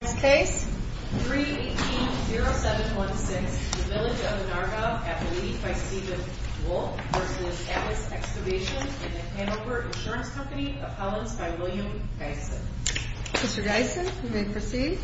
Case 3-18-0716, The Village of Onarga v. Atlas Excavation, Inc. Mr. Gysin, you may proceed.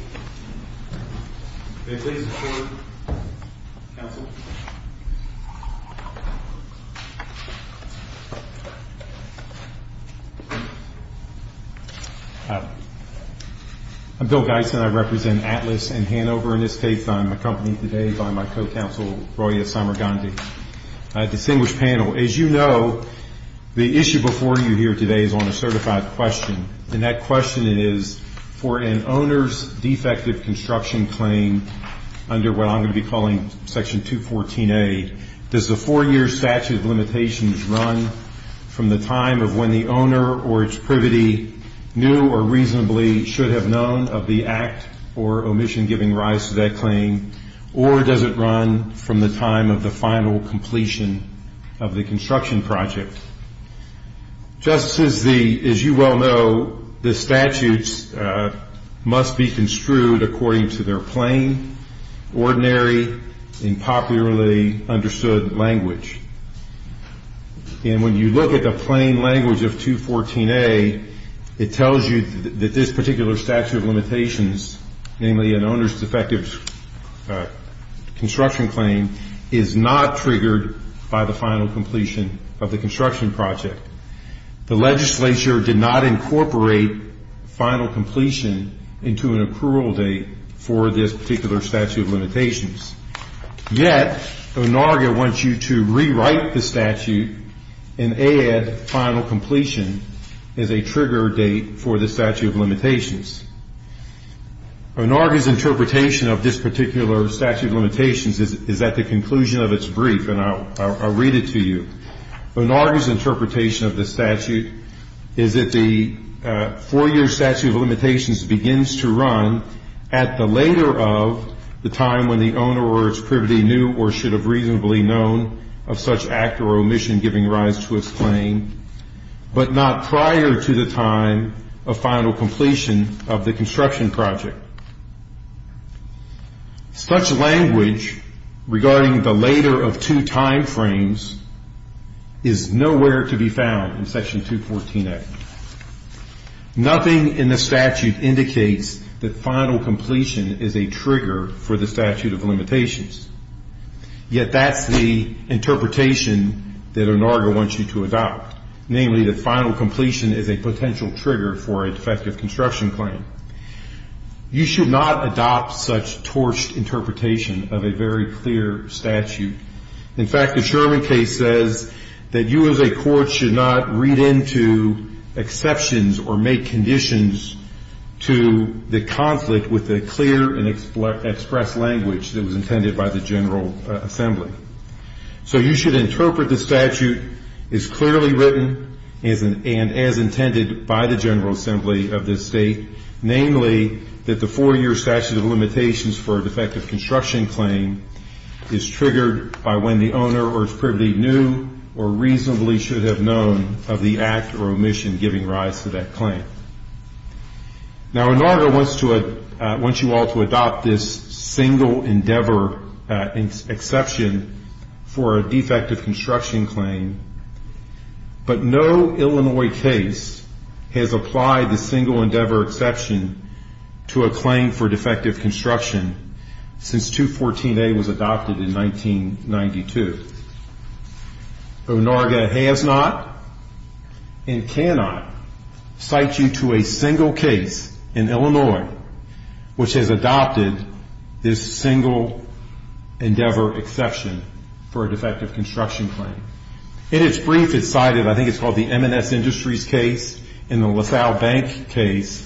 I'm Bill Gysin. I represent Atlas and Hanover in this case. I'm accompanied today by my co-counsel, Roya Samargandhi. Distinguished panel, as you know, the issue before you here today is on a certified question and that question is, for an owner's defective construction claim under what I'm going to be calling Section 214A, does the four-year statute of limitations run from the time of when the owner or its privity knew or reasonably should have known of the act or omission giving rise to that claim or does it run from the time of the final completion of the construction project? Just as you well know, the statutes must be construed according to their plain, ordinary, and popularly understood language. And when you look at the plain language of 214A, it tells you that this particular statute of limitations, namely an owner's defective construction claim, is not triggered by the final completion of the construction project. The legislature did not incorporate final completion into an accrual date for this particular statute of limitations. Yet, ONARGA wants you to rewrite the statute and add final completion as a ONARGA's interpretation of this particular statute of limitations is at the conclusion of its brief and I'll read it to you. ONARGA's interpretation of the statute is that the four-year statute of limitations begins to run at the later of the time when the owner or its privity knew or should have reasonably known of such act or omission giving rise to its claim, but not prior to the time of final completion of the construction project. Such language regarding the later of two time frames is nowhere to be found in section 214A. Nothing in the statute indicates that final completion is a trigger for the statute of you to adopt, namely that final completion is a potential trigger for a defective construction claim. You should not adopt such torched interpretation of a very clear statute. In fact, the Sherman case says that you as a court should not read into exceptions or make conditions to the conflict with the clear and expressed language that was intended by the General Assembly. So you should interpret the statute as clearly written and as intended by the General Assembly of this state, namely that the four-year statute of limitations for a defective construction claim is triggered by when the owner or its privity knew or reasonably should have known of the act or omission giving rise to that claim. Now, ONARGA wants you all to adopt this single endeavor exception for a defective construction claim, but no Illinois case has applied the single endeavor exception to a claim for defective construction since 214A was adopted in 1992. ONARGA has not and cannot cite you to a single case in Illinois which has adopted this single endeavor exception for a defective construction claim. In its brief, it's cited, I think it's called the M&S Industries case and the LaSalle Bank case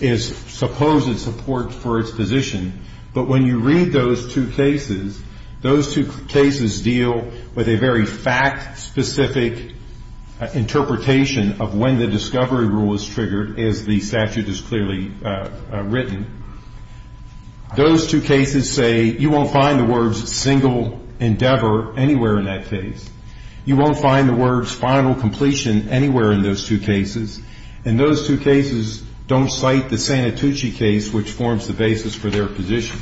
is supposed to support for its position, but when you read those two cases, those two cases deal with a very fact-specific interpretation of when the discovery rule is triggered as the statute is clearly written. Those two cases say you won't find the words single endeavor anywhere in that case. You won't find the words final completion anywhere in those two cases, and those two cases don't cite the Santucci case which forms the basis for their position.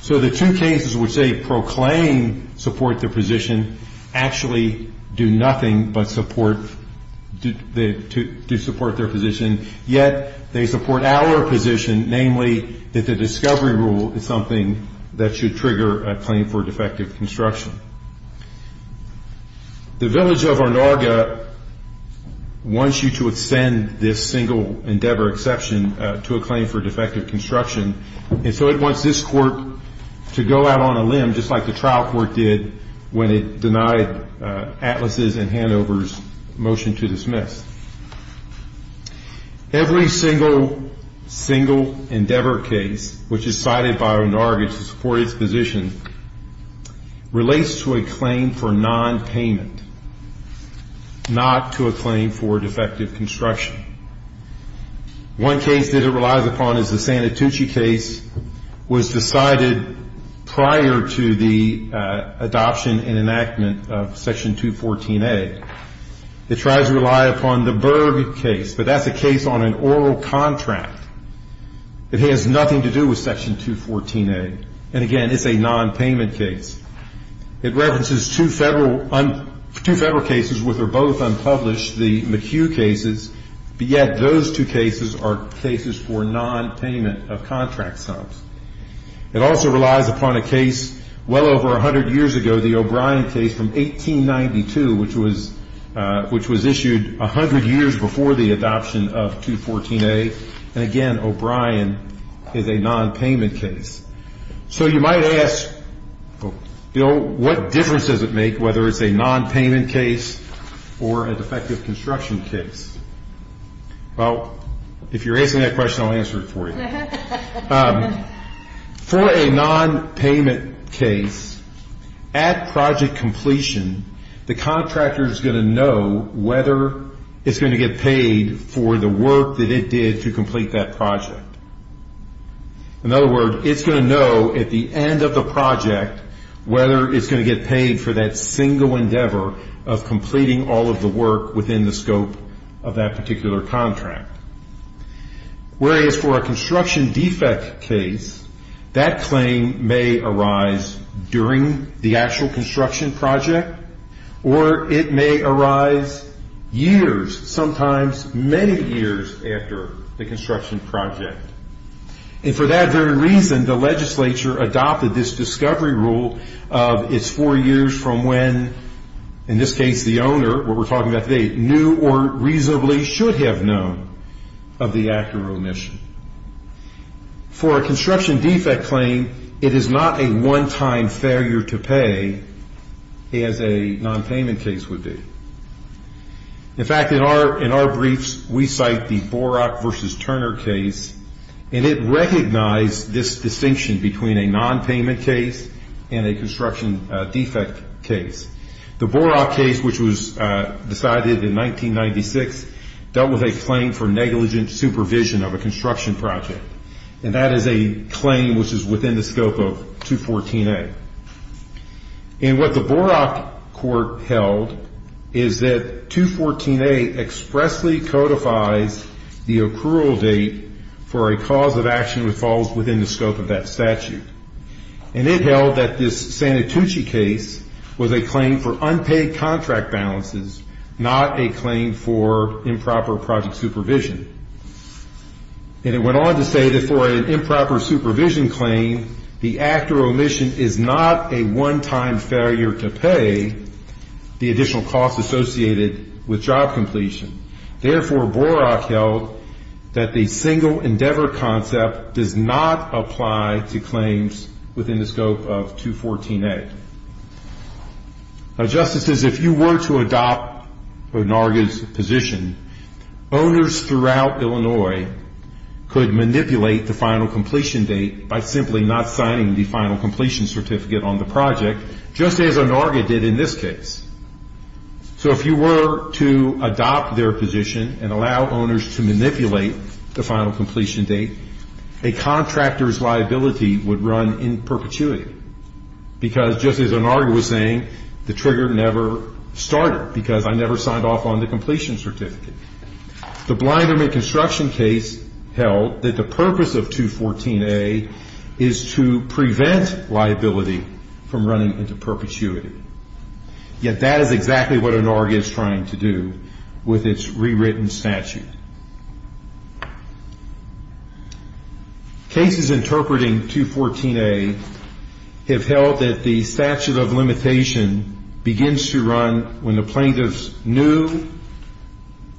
So the two cases which they proclaim support their position actually do nothing but support their position, yet they support our position, namely that the discovery rule is something that should trigger a claim for defective construction. The village of ONARGA wants you to extend this single endeavor exception to a claim for defective construction, and so it wants this court to go out on a limb just like the trial court did when it denied Atlas' and Hanover's motion to dismiss. Every single, single endeavor case which is cited by ONARGA to support its position relates to a claim for nonpayment, not to a claim for defective construction. One case that it relies upon is the Santucci case was decided prior to the adoption and enactment of Section 214A. It tries to rely upon the Berg case, but that's a case on an oral contract. It has nothing to do with Section 214A, and again, it's a nonpayment case. It references two federal cases which are both unpublished, the McHugh cases, but yet those two cases are cases for nonpayment of contract sums. It also relies upon a case well over 100 years ago, the O'Brien case from 1892, which was issued 100 years before the adoption of 214A, and again, O'Brien is a nonpayment case. So you might ask, you know, what difference does it make whether it's a nonpayment case or a defective construction case? Well, if you're asking that question, I'll answer it for you. For a nonpayment case, at project completion, the contractor is going to know whether it's going to get paid for the work that it did to complete that project. In other words, it's going to know at the end of the project whether it's going to get paid for that single endeavor of completing all of the work within the scope of that particular contract. Whereas for a construction defect case, that claim may arise during the actual construction project or it may arise years, sometimes many years after the construction project. And for that very reason, the legislature adopted this discovery rule of it's four years from when, in this case, the owner, what we're talking about today, knew or reasonably should have known of the act of remission. For a construction defect claim, it is not a one-time failure to pay as a nonpayment case would be. In fact, in our briefs, we cite the Borach v. Turner case, and it recognized this distinction between a nonpayment case and a construction defect case. The Borach case, which was decided in 1996, dealt with a claim for negligent supervision of a construction project. And that is a claim which is within the scope of 214A. And what the Borach court held is that 214A expressly codifies the accrual date for a cause of action which falls within the scope of that statute. And it held that this Santucci case was a claim for unpaid contract balances, not a claim for improper project supervision. And it went on to say that for an improper supervision claim, the act of remission is not a one-time failure to pay the additional costs associated with job completion. Therefore, Borach held that the single endeavor concept does not apply to claims within the scope of 214A. Now, Justices, if you were to adopt Onarga's position, owners throughout Illinois could manipulate the final completion date by simply not signing the final completion certificate on the project, just as Onarga did in this case. So if you were to adopt their position and allow owners to manipulate the final completion date, a contractor's liability would run in perpetuity because, just as Onarga was saying, the trigger never started because I never signed off on the completion certificate. The Blinderman construction case held that the purpose of 214A is to prevent liability from running into perpetuity. Yet that is exactly what Onarga is trying to do with its rewritten statute. Cases interpreting 214A have held that the statute of limitation begins to run when the plaintiffs knew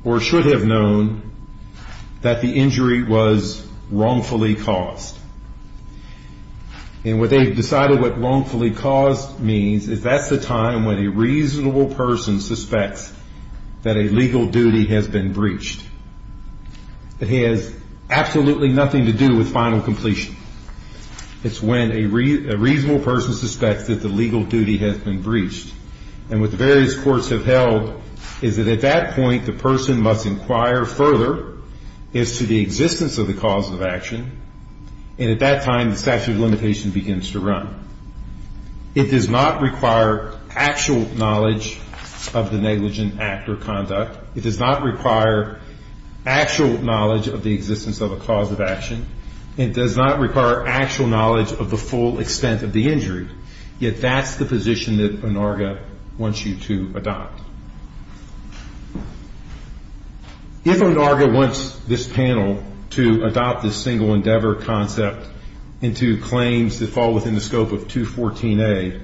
or should have known that the injury was wrongfully caused. And what they've decided what wrongfully caused means is that's the time when a reasonable person suspects that a legal duty has been breached. It has absolutely nothing to do with final completion. It's when a reasonable person suspects that the legal duty has been breached. And what the various courts have held is that at that point, the person must inquire further as to the existence of the cause of action. And at that time, the statute of limitation begins to run. It does not require actual knowledge of the negligent act or conduct. It does not require actual knowledge of the existence of a cause of action. It does not require actual knowledge of the full extent of the injury. Yet that's the position that Onarga wants you to adopt. If Onarga wants this panel to adopt this single endeavor concept into claims that fall within the scope of 214A,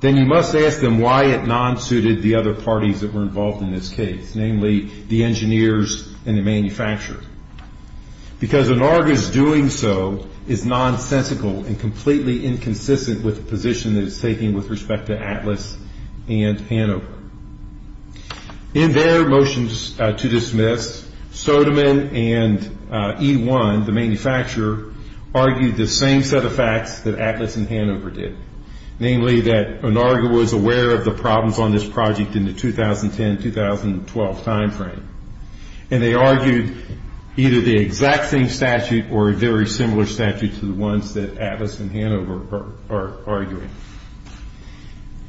then you must ask them why it non-suited the other parties that were involved in this case, namely the engineers and the manufacturer. Because Onarga's doing so is nonsensical and completely inconsistent with the position that it's taking with respect to Atlas and Hanover. In their motions to dismiss, Sodeman and E1, the manufacturer, argued the same set of facts that Atlas and Hanover did, namely that Onarga was aware of the problems on this project in the 2010-2012 timeframe. And they argued either the exact same statute or a very similar statute to the ones that Atlas and Hanover are arguing.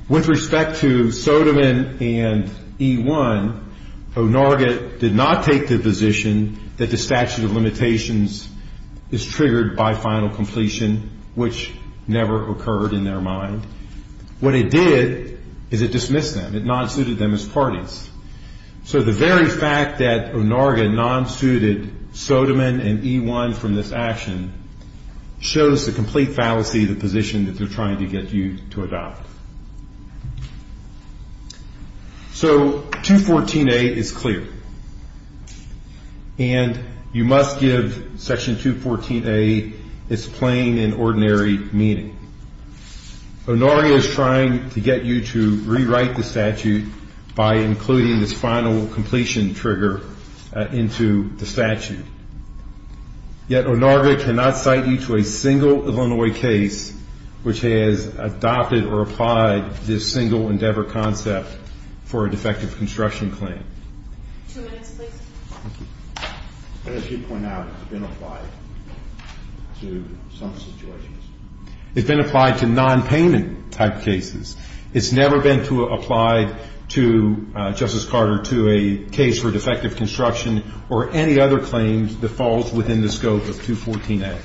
With respect to Sodeman and E1, Onarga did not take the position that the statute of limitations is triggered by final completion, which never occurred in their mind. What it did is it dismissed them. It non-suited them as parties. So the very fact that Onarga non-suited Sodeman and E1 from this action shows the complete fallacy of the position that they're trying to get you to adopt. So 214A is clear. And you must give Section 214A its plain and ordinary meaning. Onarga is trying to get you to rewrite the statute by including this final completion trigger into the statute. Yet Onarga cannot cite you to a single Illinois case which has adopted or applied this single endeavor concept for a defective construction claim. Two minutes, please. As you point out, it's been applied to some situations. It's been applied to non-payment type cases. It's never been applied to, Justice Carter, to a case for defective construction or any other claims that falls within the scope of 214A.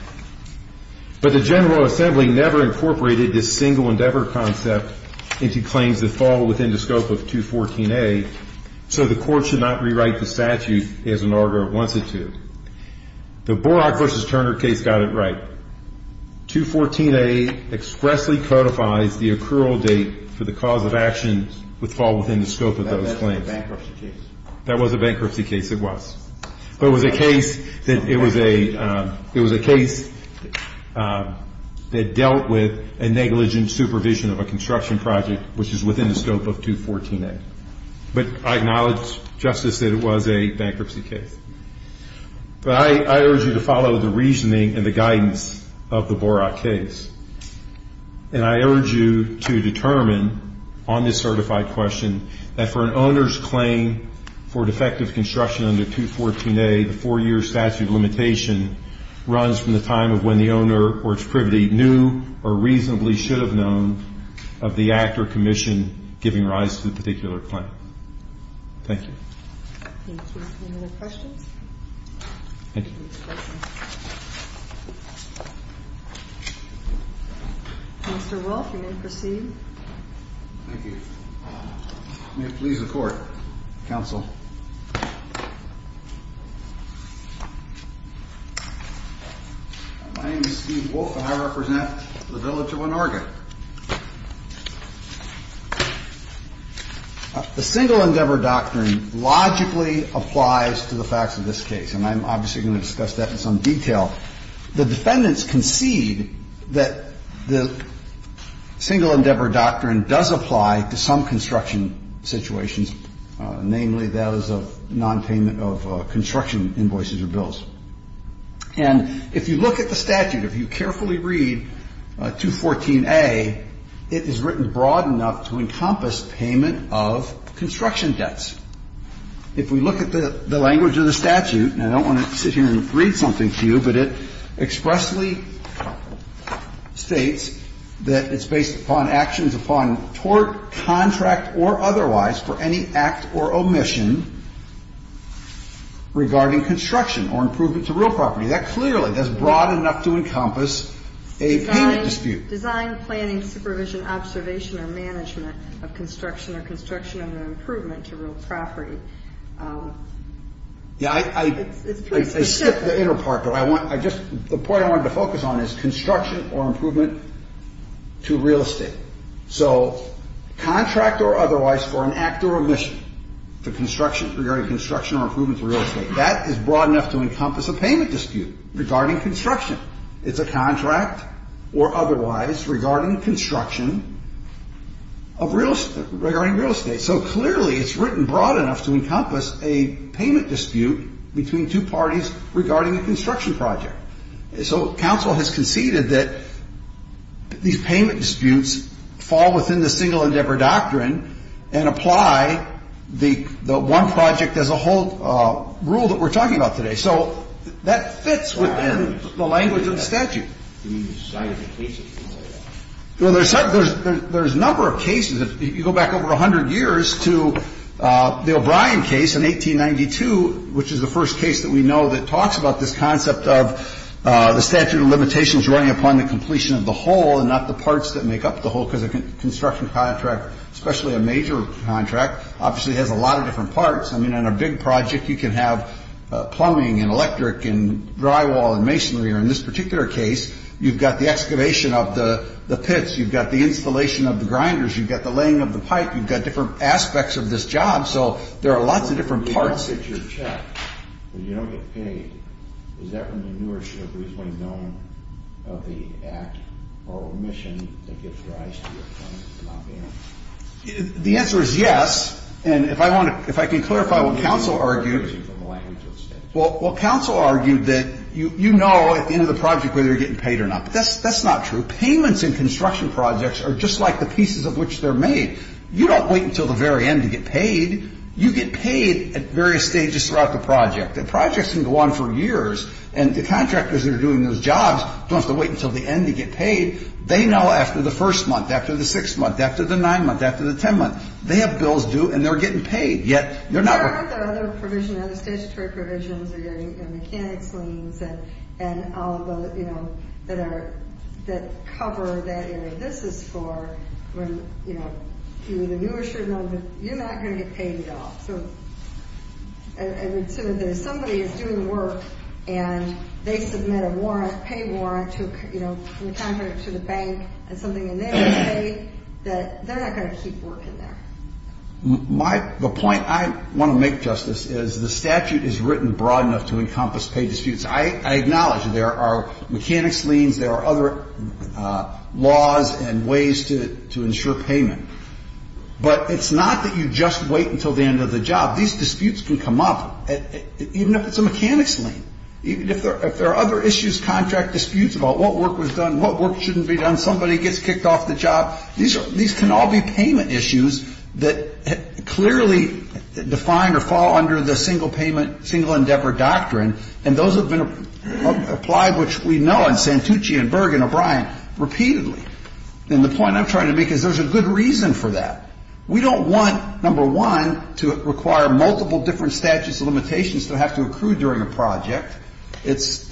But the General Assembly never incorporated this single endeavor concept into claims that fall within the scope of 214A, so the Court should not rewrite the statute as Onarga wants it to. The Borach v. Turner case got it right. 214A expressly codifies the accrual date for the cause of action which fall within the scope of those claims. That was a bankruptcy case. That was a bankruptcy case, it was. But it was a case that dealt with a negligent supervision of a construction project which is within the scope of 214A. But I acknowledge, Justice, that it was a bankruptcy case. But I urge you to follow the reasoning and the guidance of the Borach case. And I urge you to determine on this certified question that for an owner's claim for defective construction under 214A, the four-year statute of limitation runs from the time of when the owner or its privity knew or reasonably should have known of the act or commission giving rise to the particular claim. Thank you. Thank you. Any other questions? Thank you. Mr. Wolfe, you may proceed. Thank you. May it please the Court, Counsel. My name is Steve Wolfe and I represent the village of Onarga. The single-endeavor doctrine logically applies to the facts of this case. And I'm obviously going to discuss that in some detail. The defendants concede that the single-endeavor doctrine does apply to some construction situations, namely those of nonpayment of construction invoices or bills. And if you look at the statute, if you carefully read 214A, it is written broad enough to encompass payment of construction debts. If we look at the language of the statute, and I don't want to sit here and read something to you, but it expressly states that it's based upon actions upon tort, contract or otherwise for any act or omission regarding construction or improvement to real property. That clearly is broad enough to encompass a payment dispute. Design, planning, supervision, observation, or management of construction or construction of an improvement to real property. It's pretty specific. I skipped the inner part. The point I wanted to focus on is construction or improvement to real estate. So contract or otherwise for an act or omission to construction, regarding construction or improvement to real estate. That is broad enough to encompass a payment dispute regarding construction. It's a contract or otherwise regarding construction of real estate, regarding real estate. So clearly it's written broad enough to encompass a payment dispute between two parties regarding a construction project. So counsel has conceded that these payment disputes fall within the single endeavor doctrine and apply the one project as a whole rule that we're talking about today. So that fits within the language of the statute. There's a number of cases. If you go back over 100 years to the O'Brien case in 1892, which is the first case that we know that talks about this concept of the statute of limitations running upon the completion of the whole and not the parts that make up the whole, because a construction contract, especially a major contract, obviously has a lot of different parts. I mean, on a big project, you can have plumbing and electric and drywall and masonry. Or in this particular case, you've got the excavation of the pits. You've got the installation of the grinders. You've got the laying of the pipe. You've got different aspects of this job. So there are lots of different parts. When you don't get your check, when you don't get paid, is that when the newer should have reasonably known of the act or omission that gives rise to your payment? The answer is yes. And if I can clarify what counsel argued. Well, counsel argued that you know at the end of the project whether you're getting paid or not. But that's not true. Payments in construction projects are just like the pieces of which they're made. You don't wait until the very end to get paid. You get paid at various stages throughout the project. And projects can go on for years. And the contractors that are doing those jobs don't have to wait until the end to get paid. They know after the first month, after the sixth month, after the ninth month, after the tenth month. They have bills due and they're getting paid. There are other provisions, other statutory provisions, or your mechanics liens and all of those that cover that area. This is for when the newer should know that you're not going to get paid at all. So somebody is doing work and they submit a pay warrant to the bank and something in there to say that they're not going to keep working there. The point I want to make, Justice, is the statute is written broad enough to encompass paid disputes. I acknowledge there are mechanics liens, there are other laws and ways to ensure payment. But it's not that you just wait until the end of the job. These disputes can come up even if it's a mechanics lien. If there are other issues, contract disputes about what work was done, what work shouldn't be done, somebody gets kicked off the job, these can all be payment issues that clearly define or fall under the single payment, single endeavor doctrine. And those have been applied, which we know in Santucci and Berg and O'Brien, repeatedly. And the point I'm trying to make is there's a good reason for that. We don't want, number one, to require multiple different statutes of limitations that have to accrue during a project. It's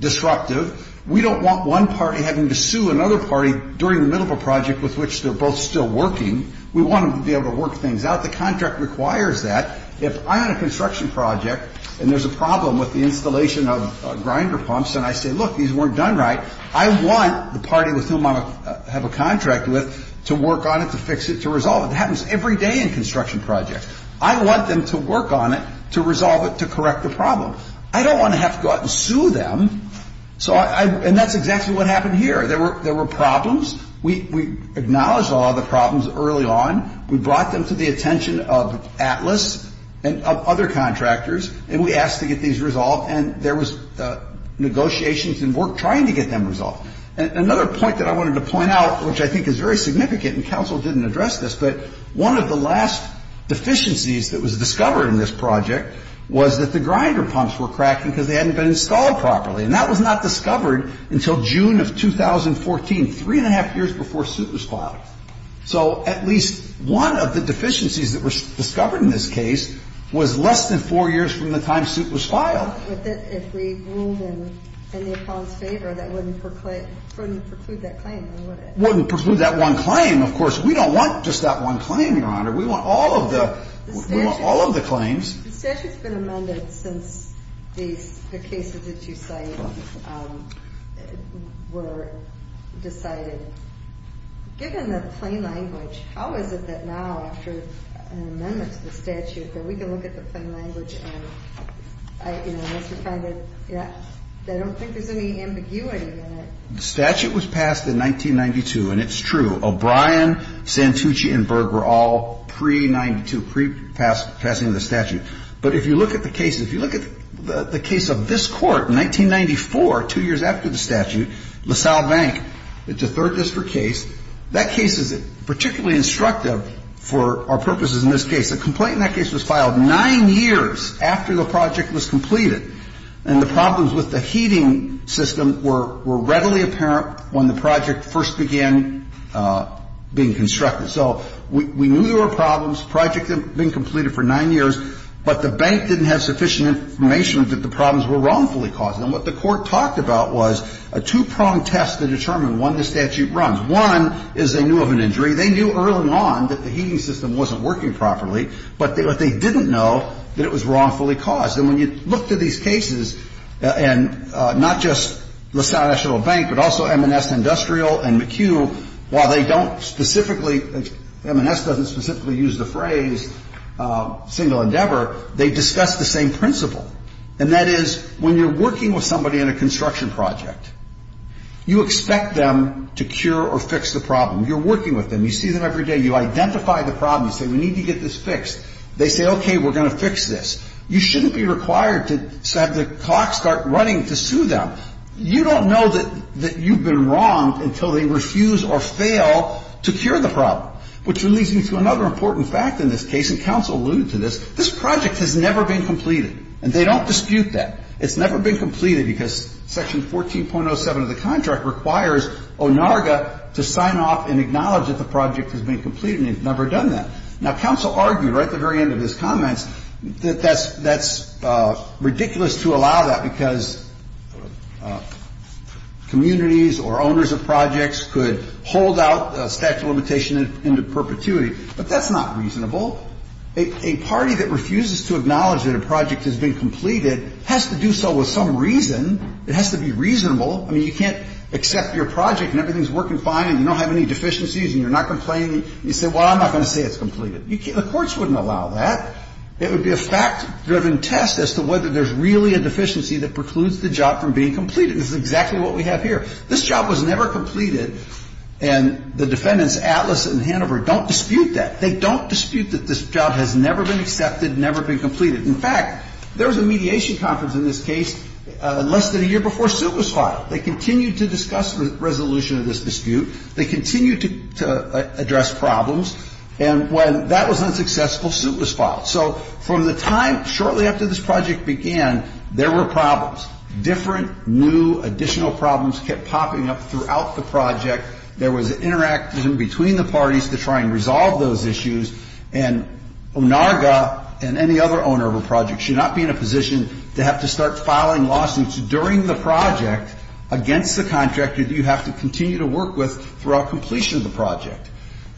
disruptive. We don't want one party having to sue another party during the middle of a project with which they're both still working. We want them to be able to work things out. The contract requires that. If I'm on a construction project and there's a problem with the installation of grinder pumps and I say, look, these weren't done right, I want the party with whom I'm going to have a contract with to work on it, to fix it, to resolve it. That happens every day in construction projects. I want them to work on it, to resolve it, to correct the problem. I don't want to have to go out and sue them. So I — and that's exactly what happened here. There were problems. We acknowledged all of the problems early on. We brought them to the attention of ATLAS and other contractors, and we asked to get these resolved. And there was negotiations and work trying to get them resolved. Another point that I wanted to point out, which I think is very significant, and counsel didn't address this, but one of the last deficiencies that was discovered in this project was that the grinder pumps were cracking because they hadn't been installed properly. And that was not discovered until June of 2014, three and a half years before suit was filed. So at least one of the deficiencies that was discovered in this case was less than four years from the time suit was filed. But if we ruled in the opponent's favor, that wouldn't preclude that claim, would it? Wouldn't preclude that one claim, of course. We don't want just that one claim, Your Honor. We want all of the claims. The statute's been amended since the cases that you cite were decided. Given the plain language, how is it that now, after an amendment to the statute, that we can look at the plain language and, you know, I don't think there's any ambiguity in it. The statute was passed in 1992, and it's true. O'Brien, Santucci, and Berg were all pre-'92, pre-passing the statute. But if you look at the cases, if you look at the case of this Court in 1994, two years after the statute, LaSalle Bank, it's a third district case. That case is particularly instructive for our purposes in this case. A complaint in that case was filed nine years after the project was completed. And the problems with the heating system were readily apparent when the project first began being constructed. So we knew there were problems. The project had been completed for nine years, but the bank didn't have sufficient information that the problems were wrongfully caused. And what the Court talked about was a two-pronged test to determine when the statute runs. One is they knew of an injury. They knew early on that the heating system wasn't working properly, but they didn't know that it was wrongfully caused. And when you look to these cases, and not just LaSalle National Bank, but also M&S Industrial and McHugh, while they don't specifically, M&S doesn't specifically use the phrase single endeavor, they discuss the same principle. And that is when you're working with somebody in a construction project, you expect them to cure or fix the problem. You're working with them. You see them every day. You identify the problem. You say, we need to get this fixed. They say, okay, we're going to fix this. You shouldn't be required to have the clock start running to sue them. Now, you don't know that you've been wrong until they refuse or fail to cure the problem, which leads me to another important fact in this case, and counsel alluded to this. This project has never been completed, and they don't dispute that. It's never been completed because Section 14.07 of the contract requires ONARGA to sign off and acknowledge that the project has been completed, and they've never done that. Now, counsel argued right at the very end of his comments that that's ridiculous to allow that because communities or owners of projects could hold out statute of limitation into perpetuity, but that's not reasonable. A party that refuses to acknowledge that a project has been completed has to do so with some reason. It has to be reasonable. I mean, you can't accept your project and everything's working fine and you don't have any deficiencies and you're not complaining, and you say, well, I'm not going to say it's completed. The courts wouldn't allow that. It would be a fact-driven test as to whether there's really a deficiency that precludes the job from being completed. This is exactly what we have here. This job was never completed, and the defendants, Atlas and Hanover, don't dispute that. They don't dispute that this job has never been accepted, never been completed. In fact, there was a mediation conference in this case less than a year before suit was filed. They continued to discuss the resolution of this dispute. They continued to address problems, and when that was unsuccessful, suit was filed. So from the time shortly after this project began, there were problems. Different new additional problems kept popping up throughout the project. There was an interaction between the parties to try and resolve those issues, and ONARGA and any other owner of a project should not be in a position to have to start filing lawsuits during the project against the contractor that you have to continue to work with throughout completion of the project.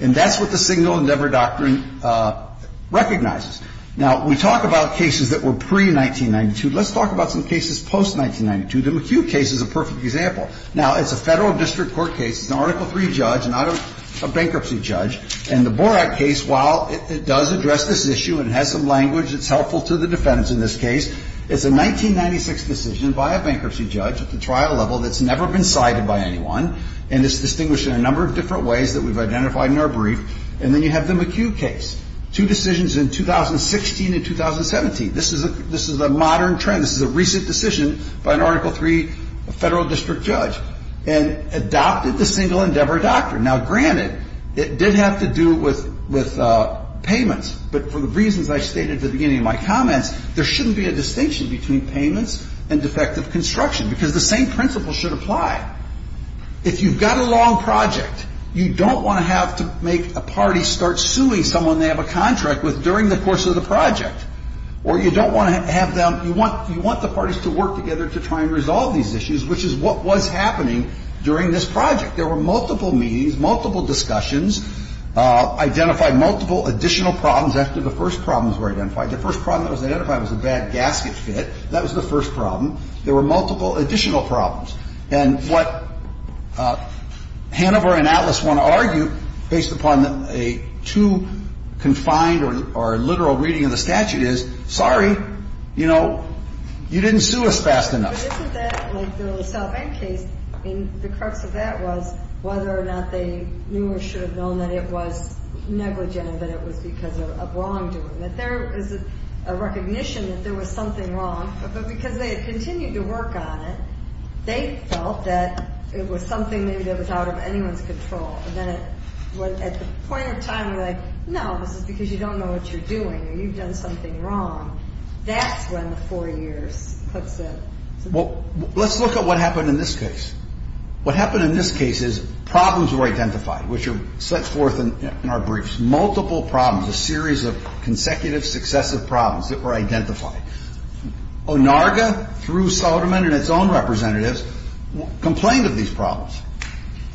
And that's what the Single Endeavor Doctrine recognizes. Now, we talk about cases that were pre-1992. Let's talk about some cases post-1992. The McHugh case is a perfect example. Now, it's a Federal District Court case. It's an Article III judge, not a bankruptcy judge. And the Borak case, while it does address this issue and has some language that's helpful to the defendants in this case, it's a 1996 decision by a bankruptcy judge at the trial level that's never been cited by anyone, and it's distinguished in a number of different ways that we've identified in our brief. And then you have the McHugh case, two decisions in 2016 and 2017. This is a modern trend. This is a recent decision by an Article III Federal District judge and adopted the Single Endeavor Doctrine. Now, granted, it did have to do with payments, but for the reasons I stated at the beginning of my comments, there shouldn't be a distinction between payments and defective construction, because the same principles should apply. If you've got a long project, you don't want to have to make a party start suing someone they have a contract with during the course of the project. Or you don't want to have them – you want the parties to work together to try and resolve these issues, which is what was happening during this project. There were multiple meetings, multiple discussions, identified multiple additional problems after the first problems were identified. The first problem that was identified was a bad gasket fit. That was the first problem. There were multiple additional problems. And what Hanover and Atlas want to argue, based upon a too confined or literal reading of the statute, is, sorry, you know, you didn't sue us fast enough. But isn't that like the LaSalle Bank case? I mean, the crux of that was whether or not they knew or should have known that it was negligent, but it was because of wrongdoing. That there is a recognition that there was something wrong, but because they had continued to work on it, they felt that it was something maybe that was out of anyone's control. And then at the point of time, they're like, no, this is because you don't know what you're doing or you've done something wrong. That's when the four years puts it. Well, let's look at what happened in this case. What happened in this case is problems were identified, which are set forth in our briefs. Multiple problems, a series of consecutive successive problems that were identified. ONARGA, through Soderman and its own representatives, complained of these problems.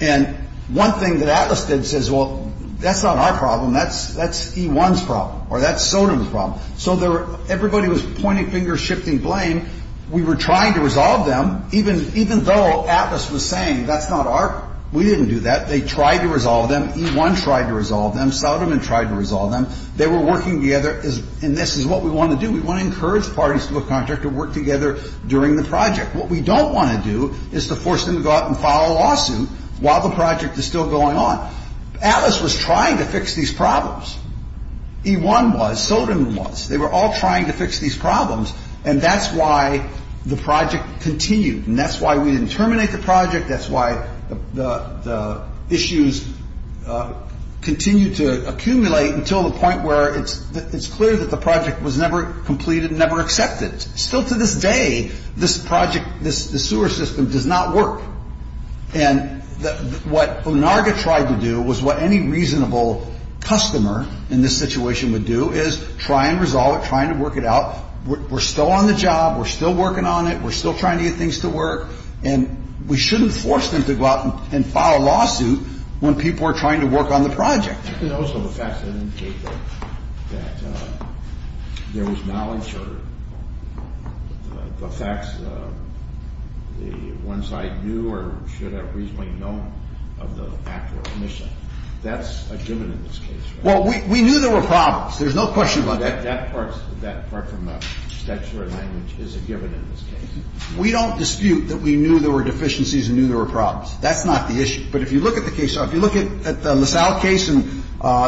And one thing that Atlas did says, well, that's not our problem. That's E1's problem or that's Soderman's problem. So everybody was pointing fingers, shifting blame. We were trying to resolve them, even though Atlas was saying that's not our – we didn't do that. They tried to resolve them. E1 tried to resolve them. Soderman tried to resolve them. They were working together, and this is what we want to do. We want to encourage parties to a contract to work together during the project. What we don't want to do is to force them to go out and file a lawsuit while the project is still going on. Atlas was trying to fix these problems. E1 was. Soderman was. They were all trying to fix these problems. And that's why the project continued. And that's why we didn't terminate the project. That's why the issues continued to accumulate until the point where it's clear that the project was never completed and never accepted. Still to this day, this project, this sewer system does not work. And what ONARGA tried to do was what any reasonable customer in this situation would do, is try and resolve it, try and work it out. We're still on the job. We're still working on it. We're still trying to get things to work. And we shouldn't force them to go out and file a lawsuit when people are trying to work on the project. And also the fact that there was knowledge or the facts, the ones I knew or should have reasonably known of the actual mission. That's a given in this case, right? Well, we knew there were problems. There's no question about that. That part from the statutory language is a given in this case. We don't dispute that we knew there were deficiencies and knew there were problems. That's not the issue. But if you look at the case, if you look at the LaSalle case and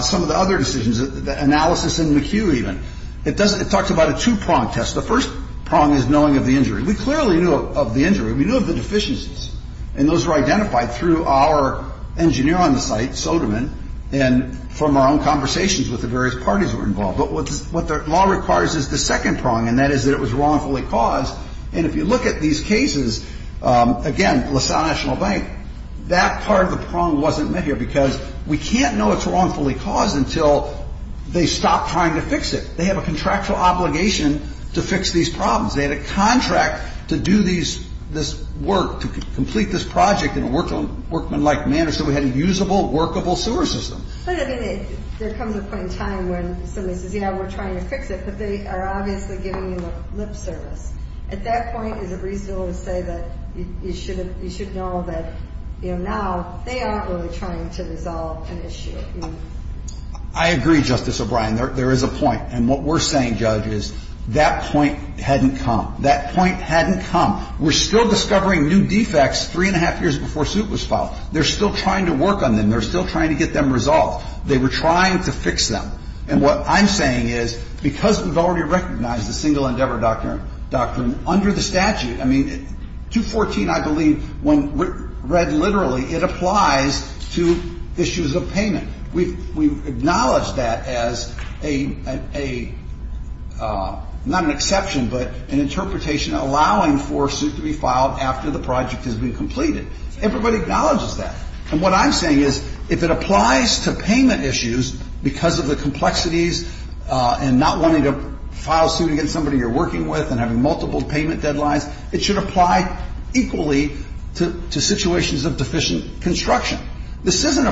some of the other decisions, the analysis in McHugh even, it talks about a two-prong test. The first prong is knowing of the injury. We clearly knew of the injury. We knew of the deficiencies. And those were identified through our engineer on the site, Soderman, and from our own conversations with the various parties who were involved. But what the law requires is the second prong, and that is that it was wrongfully caused. And if you look at these cases, again, LaSalle National Bank, that part of the prong wasn't met here because we can't know it's wrongfully caused until they stop trying to fix it. They have a contractual obligation to fix these problems. They had a contract to do this work, to complete this project in a workmanlike manner so we had a usable, workable sewer system. But, I mean, there comes a point in time when somebody says, you know, we're trying to fix it, but they are obviously giving you lip service. At that point, is it reasonable to say that you should know that, you know, now they aren't really trying to resolve an issue? I agree, Justice O'Brien. There is a point. And what we're saying, Judge, is that point hadn't come. That point hadn't come. We're still discovering new defects three and a half years before suit was filed. They're still trying to work on them. They're still trying to get them resolved. They were trying to fix them. And what I'm saying is, because we've already recognized the single endeavor doctrine under the statute, I mean, 214, I believe, when read literally, it applies to issues of payment. We've acknowledged that as a, not an exception, but an interpretation allowing for a suit to be filed after the project has been completed. Everybody acknowledges that. And what I'm saying is, if it applies to payment issues because of the complexities and not wanting to file suit against somebody you're working with and having multiple payment deadlines, it should apply equally to situations of deficient construction. This isn't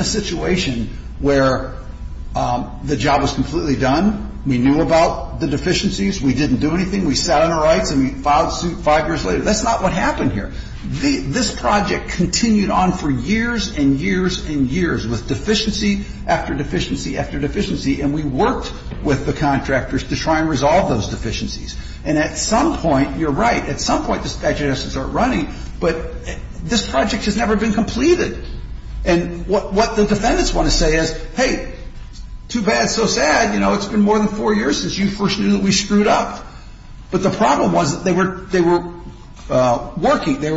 a situation where the job was completely done, we knew about the deficiencies, we didn't do anything, we sat on our rights and we filed suit five years later. That's not what happened here. This project continued on for years and years and years with deficiency after deficiency after deficiency, and we worked with the contractors to try and resolve those deficiencies. And at some point, you're right, at some point the statute has to start running, but this project has never been completed. And what the defendants want to say is, hey, too bad, so sad, you know, it's been more than four years since you first knew that we screwed up. But the problem was that they were working, they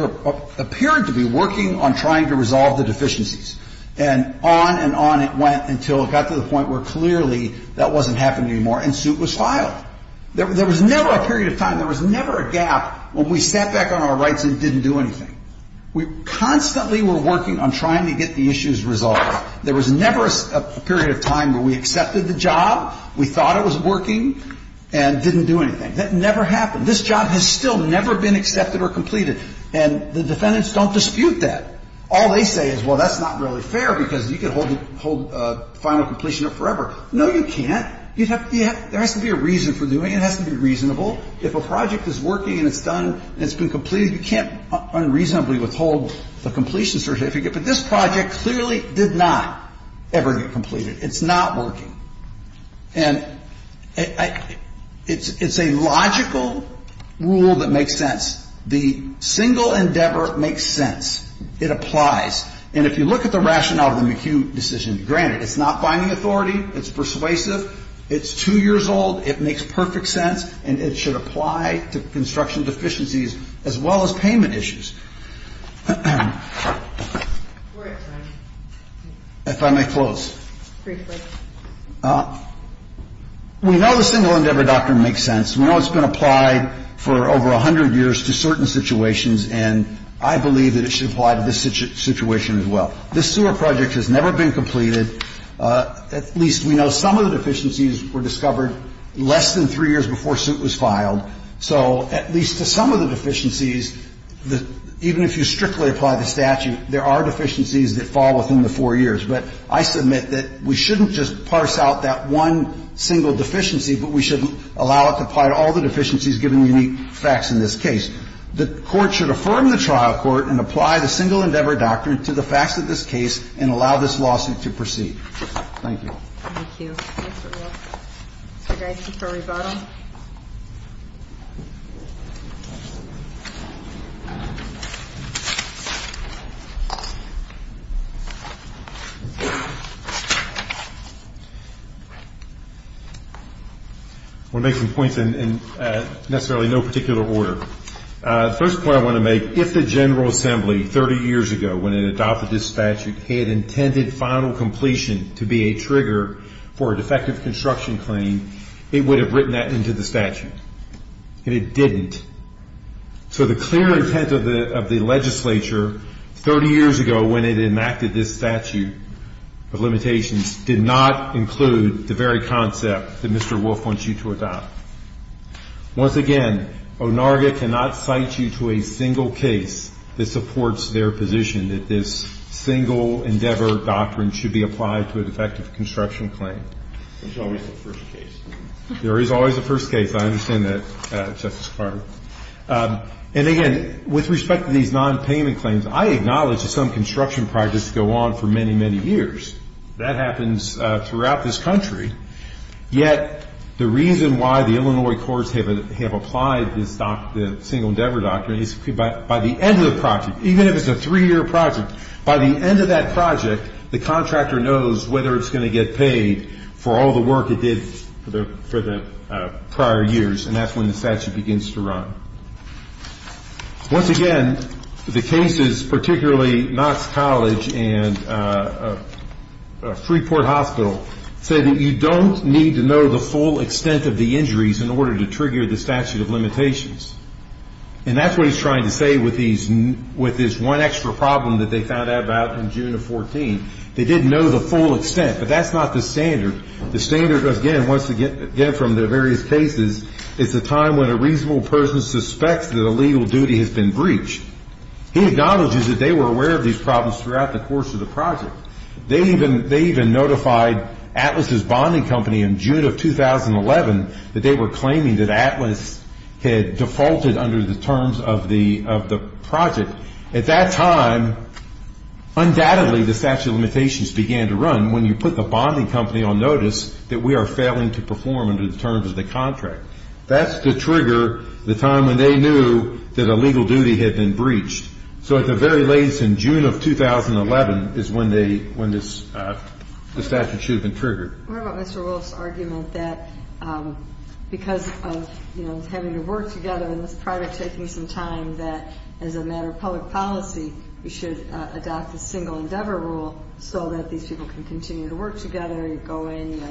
appeared to be working on trying to resolve the deficiencies. And on and on it went until it got to the point where clearly that wasn't happening anymore and suit was filed. There was never a period of time, there was never a gap when we sat back on our rights and didn't do anything. We constantly were working on trying to get the issues resolved. There was never a period of time where we accepted the job, we thought it was working, and didn't do anything. That never happened. This job has still never been accepted or completed, and the defendants don't dispute that. All they say is, well, that's not really fair because you could hold final completion up forever. No, you can't. There has to be a reason for doing it. It has to be reasonable. If a project is working and it's done and it's been completed, you can't unreasonably withhold the completion certificate. But this project clearly did not ever get completed. It's not working. And it's a logical rule that makes sense. The single endeavor makes sense. It applies. And if you look at the rationale of the McHugh decision, granted, it's not binding authority, it's persuasive, it's two years old, it makes perfect sense, and it should apply to construction deficiencies as well as payment issues. If I may close. Briefly. We know the single endeavor doctrine makes sense. We know it's been applied for over 100 years to certain situations, and I believe that it should apply to this situation as well. This sewer project has never been completed. At least we know some of the deficiencies were discovered less than three years before suit was filed. So at least to some of the deficiencies, even if you strictly apply the statute, there are deficiencies that fall within the four years. But I submit that we shouldn't just parse out that one single deficiency, but we shouldn't allow it to apply to all the deficiencies, given the unique facts in this case. The Court should affirm the trial court and apply the single endeavor doctrine to the facts of this case and allow this lawsuit to proceed. Thank you. Thank you. Mr. Wilson. Mr. Geis, before we vote on it. I want to make some points in necessarily no particular order. The first point I want to make, if the General Assembly 30 years ago, when it adopted this statute, had intended final completion to be a trigger for a defective construction claim, it would have written that into the statute. And it didn't. So the clear intent of the legislature 30 years ago, when it enacted this statute of limitations, did not include the very concept that Mr. Wolf wants you to adopt. Once again, ONARGA cannot cite you to a single case that supports their position, that this single endeavor doctrine should be applied to a defective construction claim. There's always a first case. There is always a first case. I understand that, Justice Carter. And, again, with respect to these nonpayment claims, I acknowledge that some construction projects go on for many, many years. That happens throughout this country. Yet the reason why the Illinois courts have applied this single endeavor doctrine is by the end of the project, even if it's a three-year project, by the end of that project, the contractor knows whether it's going to get paid for all the work it did for the prior years, and that's when the statute begins to run. Once again, the cases, particularly Knox College and Freeport Hospital, say that you don't need to know the full extent of the injuries in order to trigger the statute of limitations. And that's what he's trying to say with this one extra problem that they found out about in June of 2014. They didn't know the full extent, but that's not the standard. The standard, again, once again from the various cases, is the time when a reasonable person suspects that a legal duty has been breached. He acknowledges that they were aware of these problems throughout the course of the project. They even notified Atlas's bonding company in June of 2011 that they were claiming that Atlas had defaulted under the terms of the project. At that time, undoubtedly, the statute of limitations began to run when you put the bonding company on notice that we are failing to perform under the terms of the contract. That's the trigger, the time when they knew that a legal duty had been breached. So at the very latest in June of 2011 is when this statute should have been triggered. What about Mr. Wolf's argument that because of having to work together in this project, taking some time, that as a matter of public policy, we should adopt the single endeavor rule so that these people can continue to work together, go in,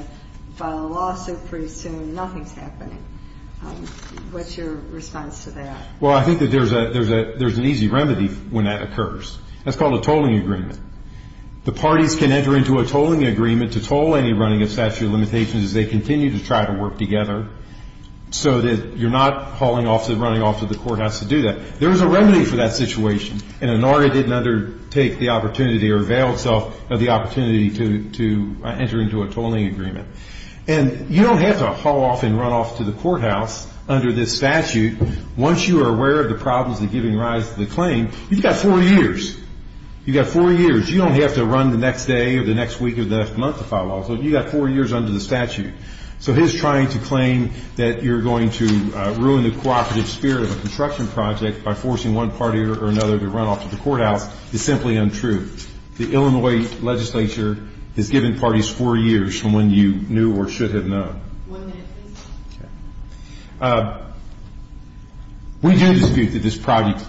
file a lawsuit pretty soon, nothing's happening. What's your response to that? Well, I think that there's an easy remedy when that occurs. That's called a tolling agreement. The parties can enter into a tolling agreement to toll any running of statute of limitations as they continue to try to work together so that you're not hauling off and running off to the courthouse to do that. There is a remedy for that situation, and ANARDA didn't undertake the opportunity or avail itself of the opportunity to enter into a tolling agreement. And you don't have to haul off and run off to the courthouse under this statute once you are aware of the problems of giving rise to the claim. You've got four years. You've got four years. You don't have to run the next day or the next week or the next month to file a lawsuit. You've got four years under the statute. So his trying to claim that you're going to ruin the cooperative spirit of a construction project by forcing one party or another to run off to the courthouse is simply untrue. The Illinois legislature has given parties four years from when you knew or should have known. We do dispute that this project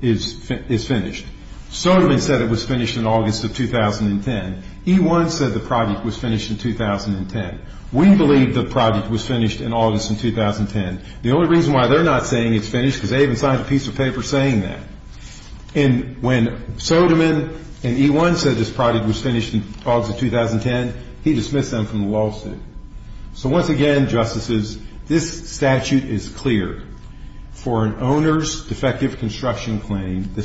is finished. Soderman said it was finished in August of 2010. E-1 said the project was finished in 2010. We believe the project was finished in August of 2010. The only reason why they're not saying it's finished is because they haven't signed a piece of paper saying that. And when Soderman and E-1 said this project was finished in August of 2010, he dismissed them from the lawsuit. So once again, Justices, this statute is clear. For an owner's defective construction claim, the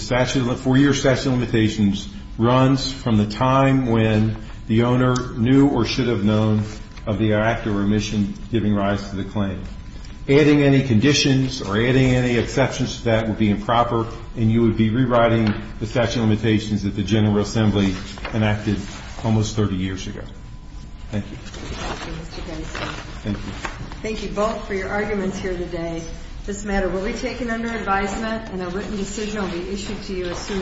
four-year statute of limitations runs from the time when the owner knew or should have known of the act or remission giving rise to the claim. Adding any conditions or adding any exceptions to that would be improper, and you would be rewriting the statute of limitations that the General Assembly enacted almost 30 years ago. Thank you. Thank you. Thank you. Thank you both for your arguments here today. This matter will be taken under advisement, and a written decision will be issued to you as soon as possible.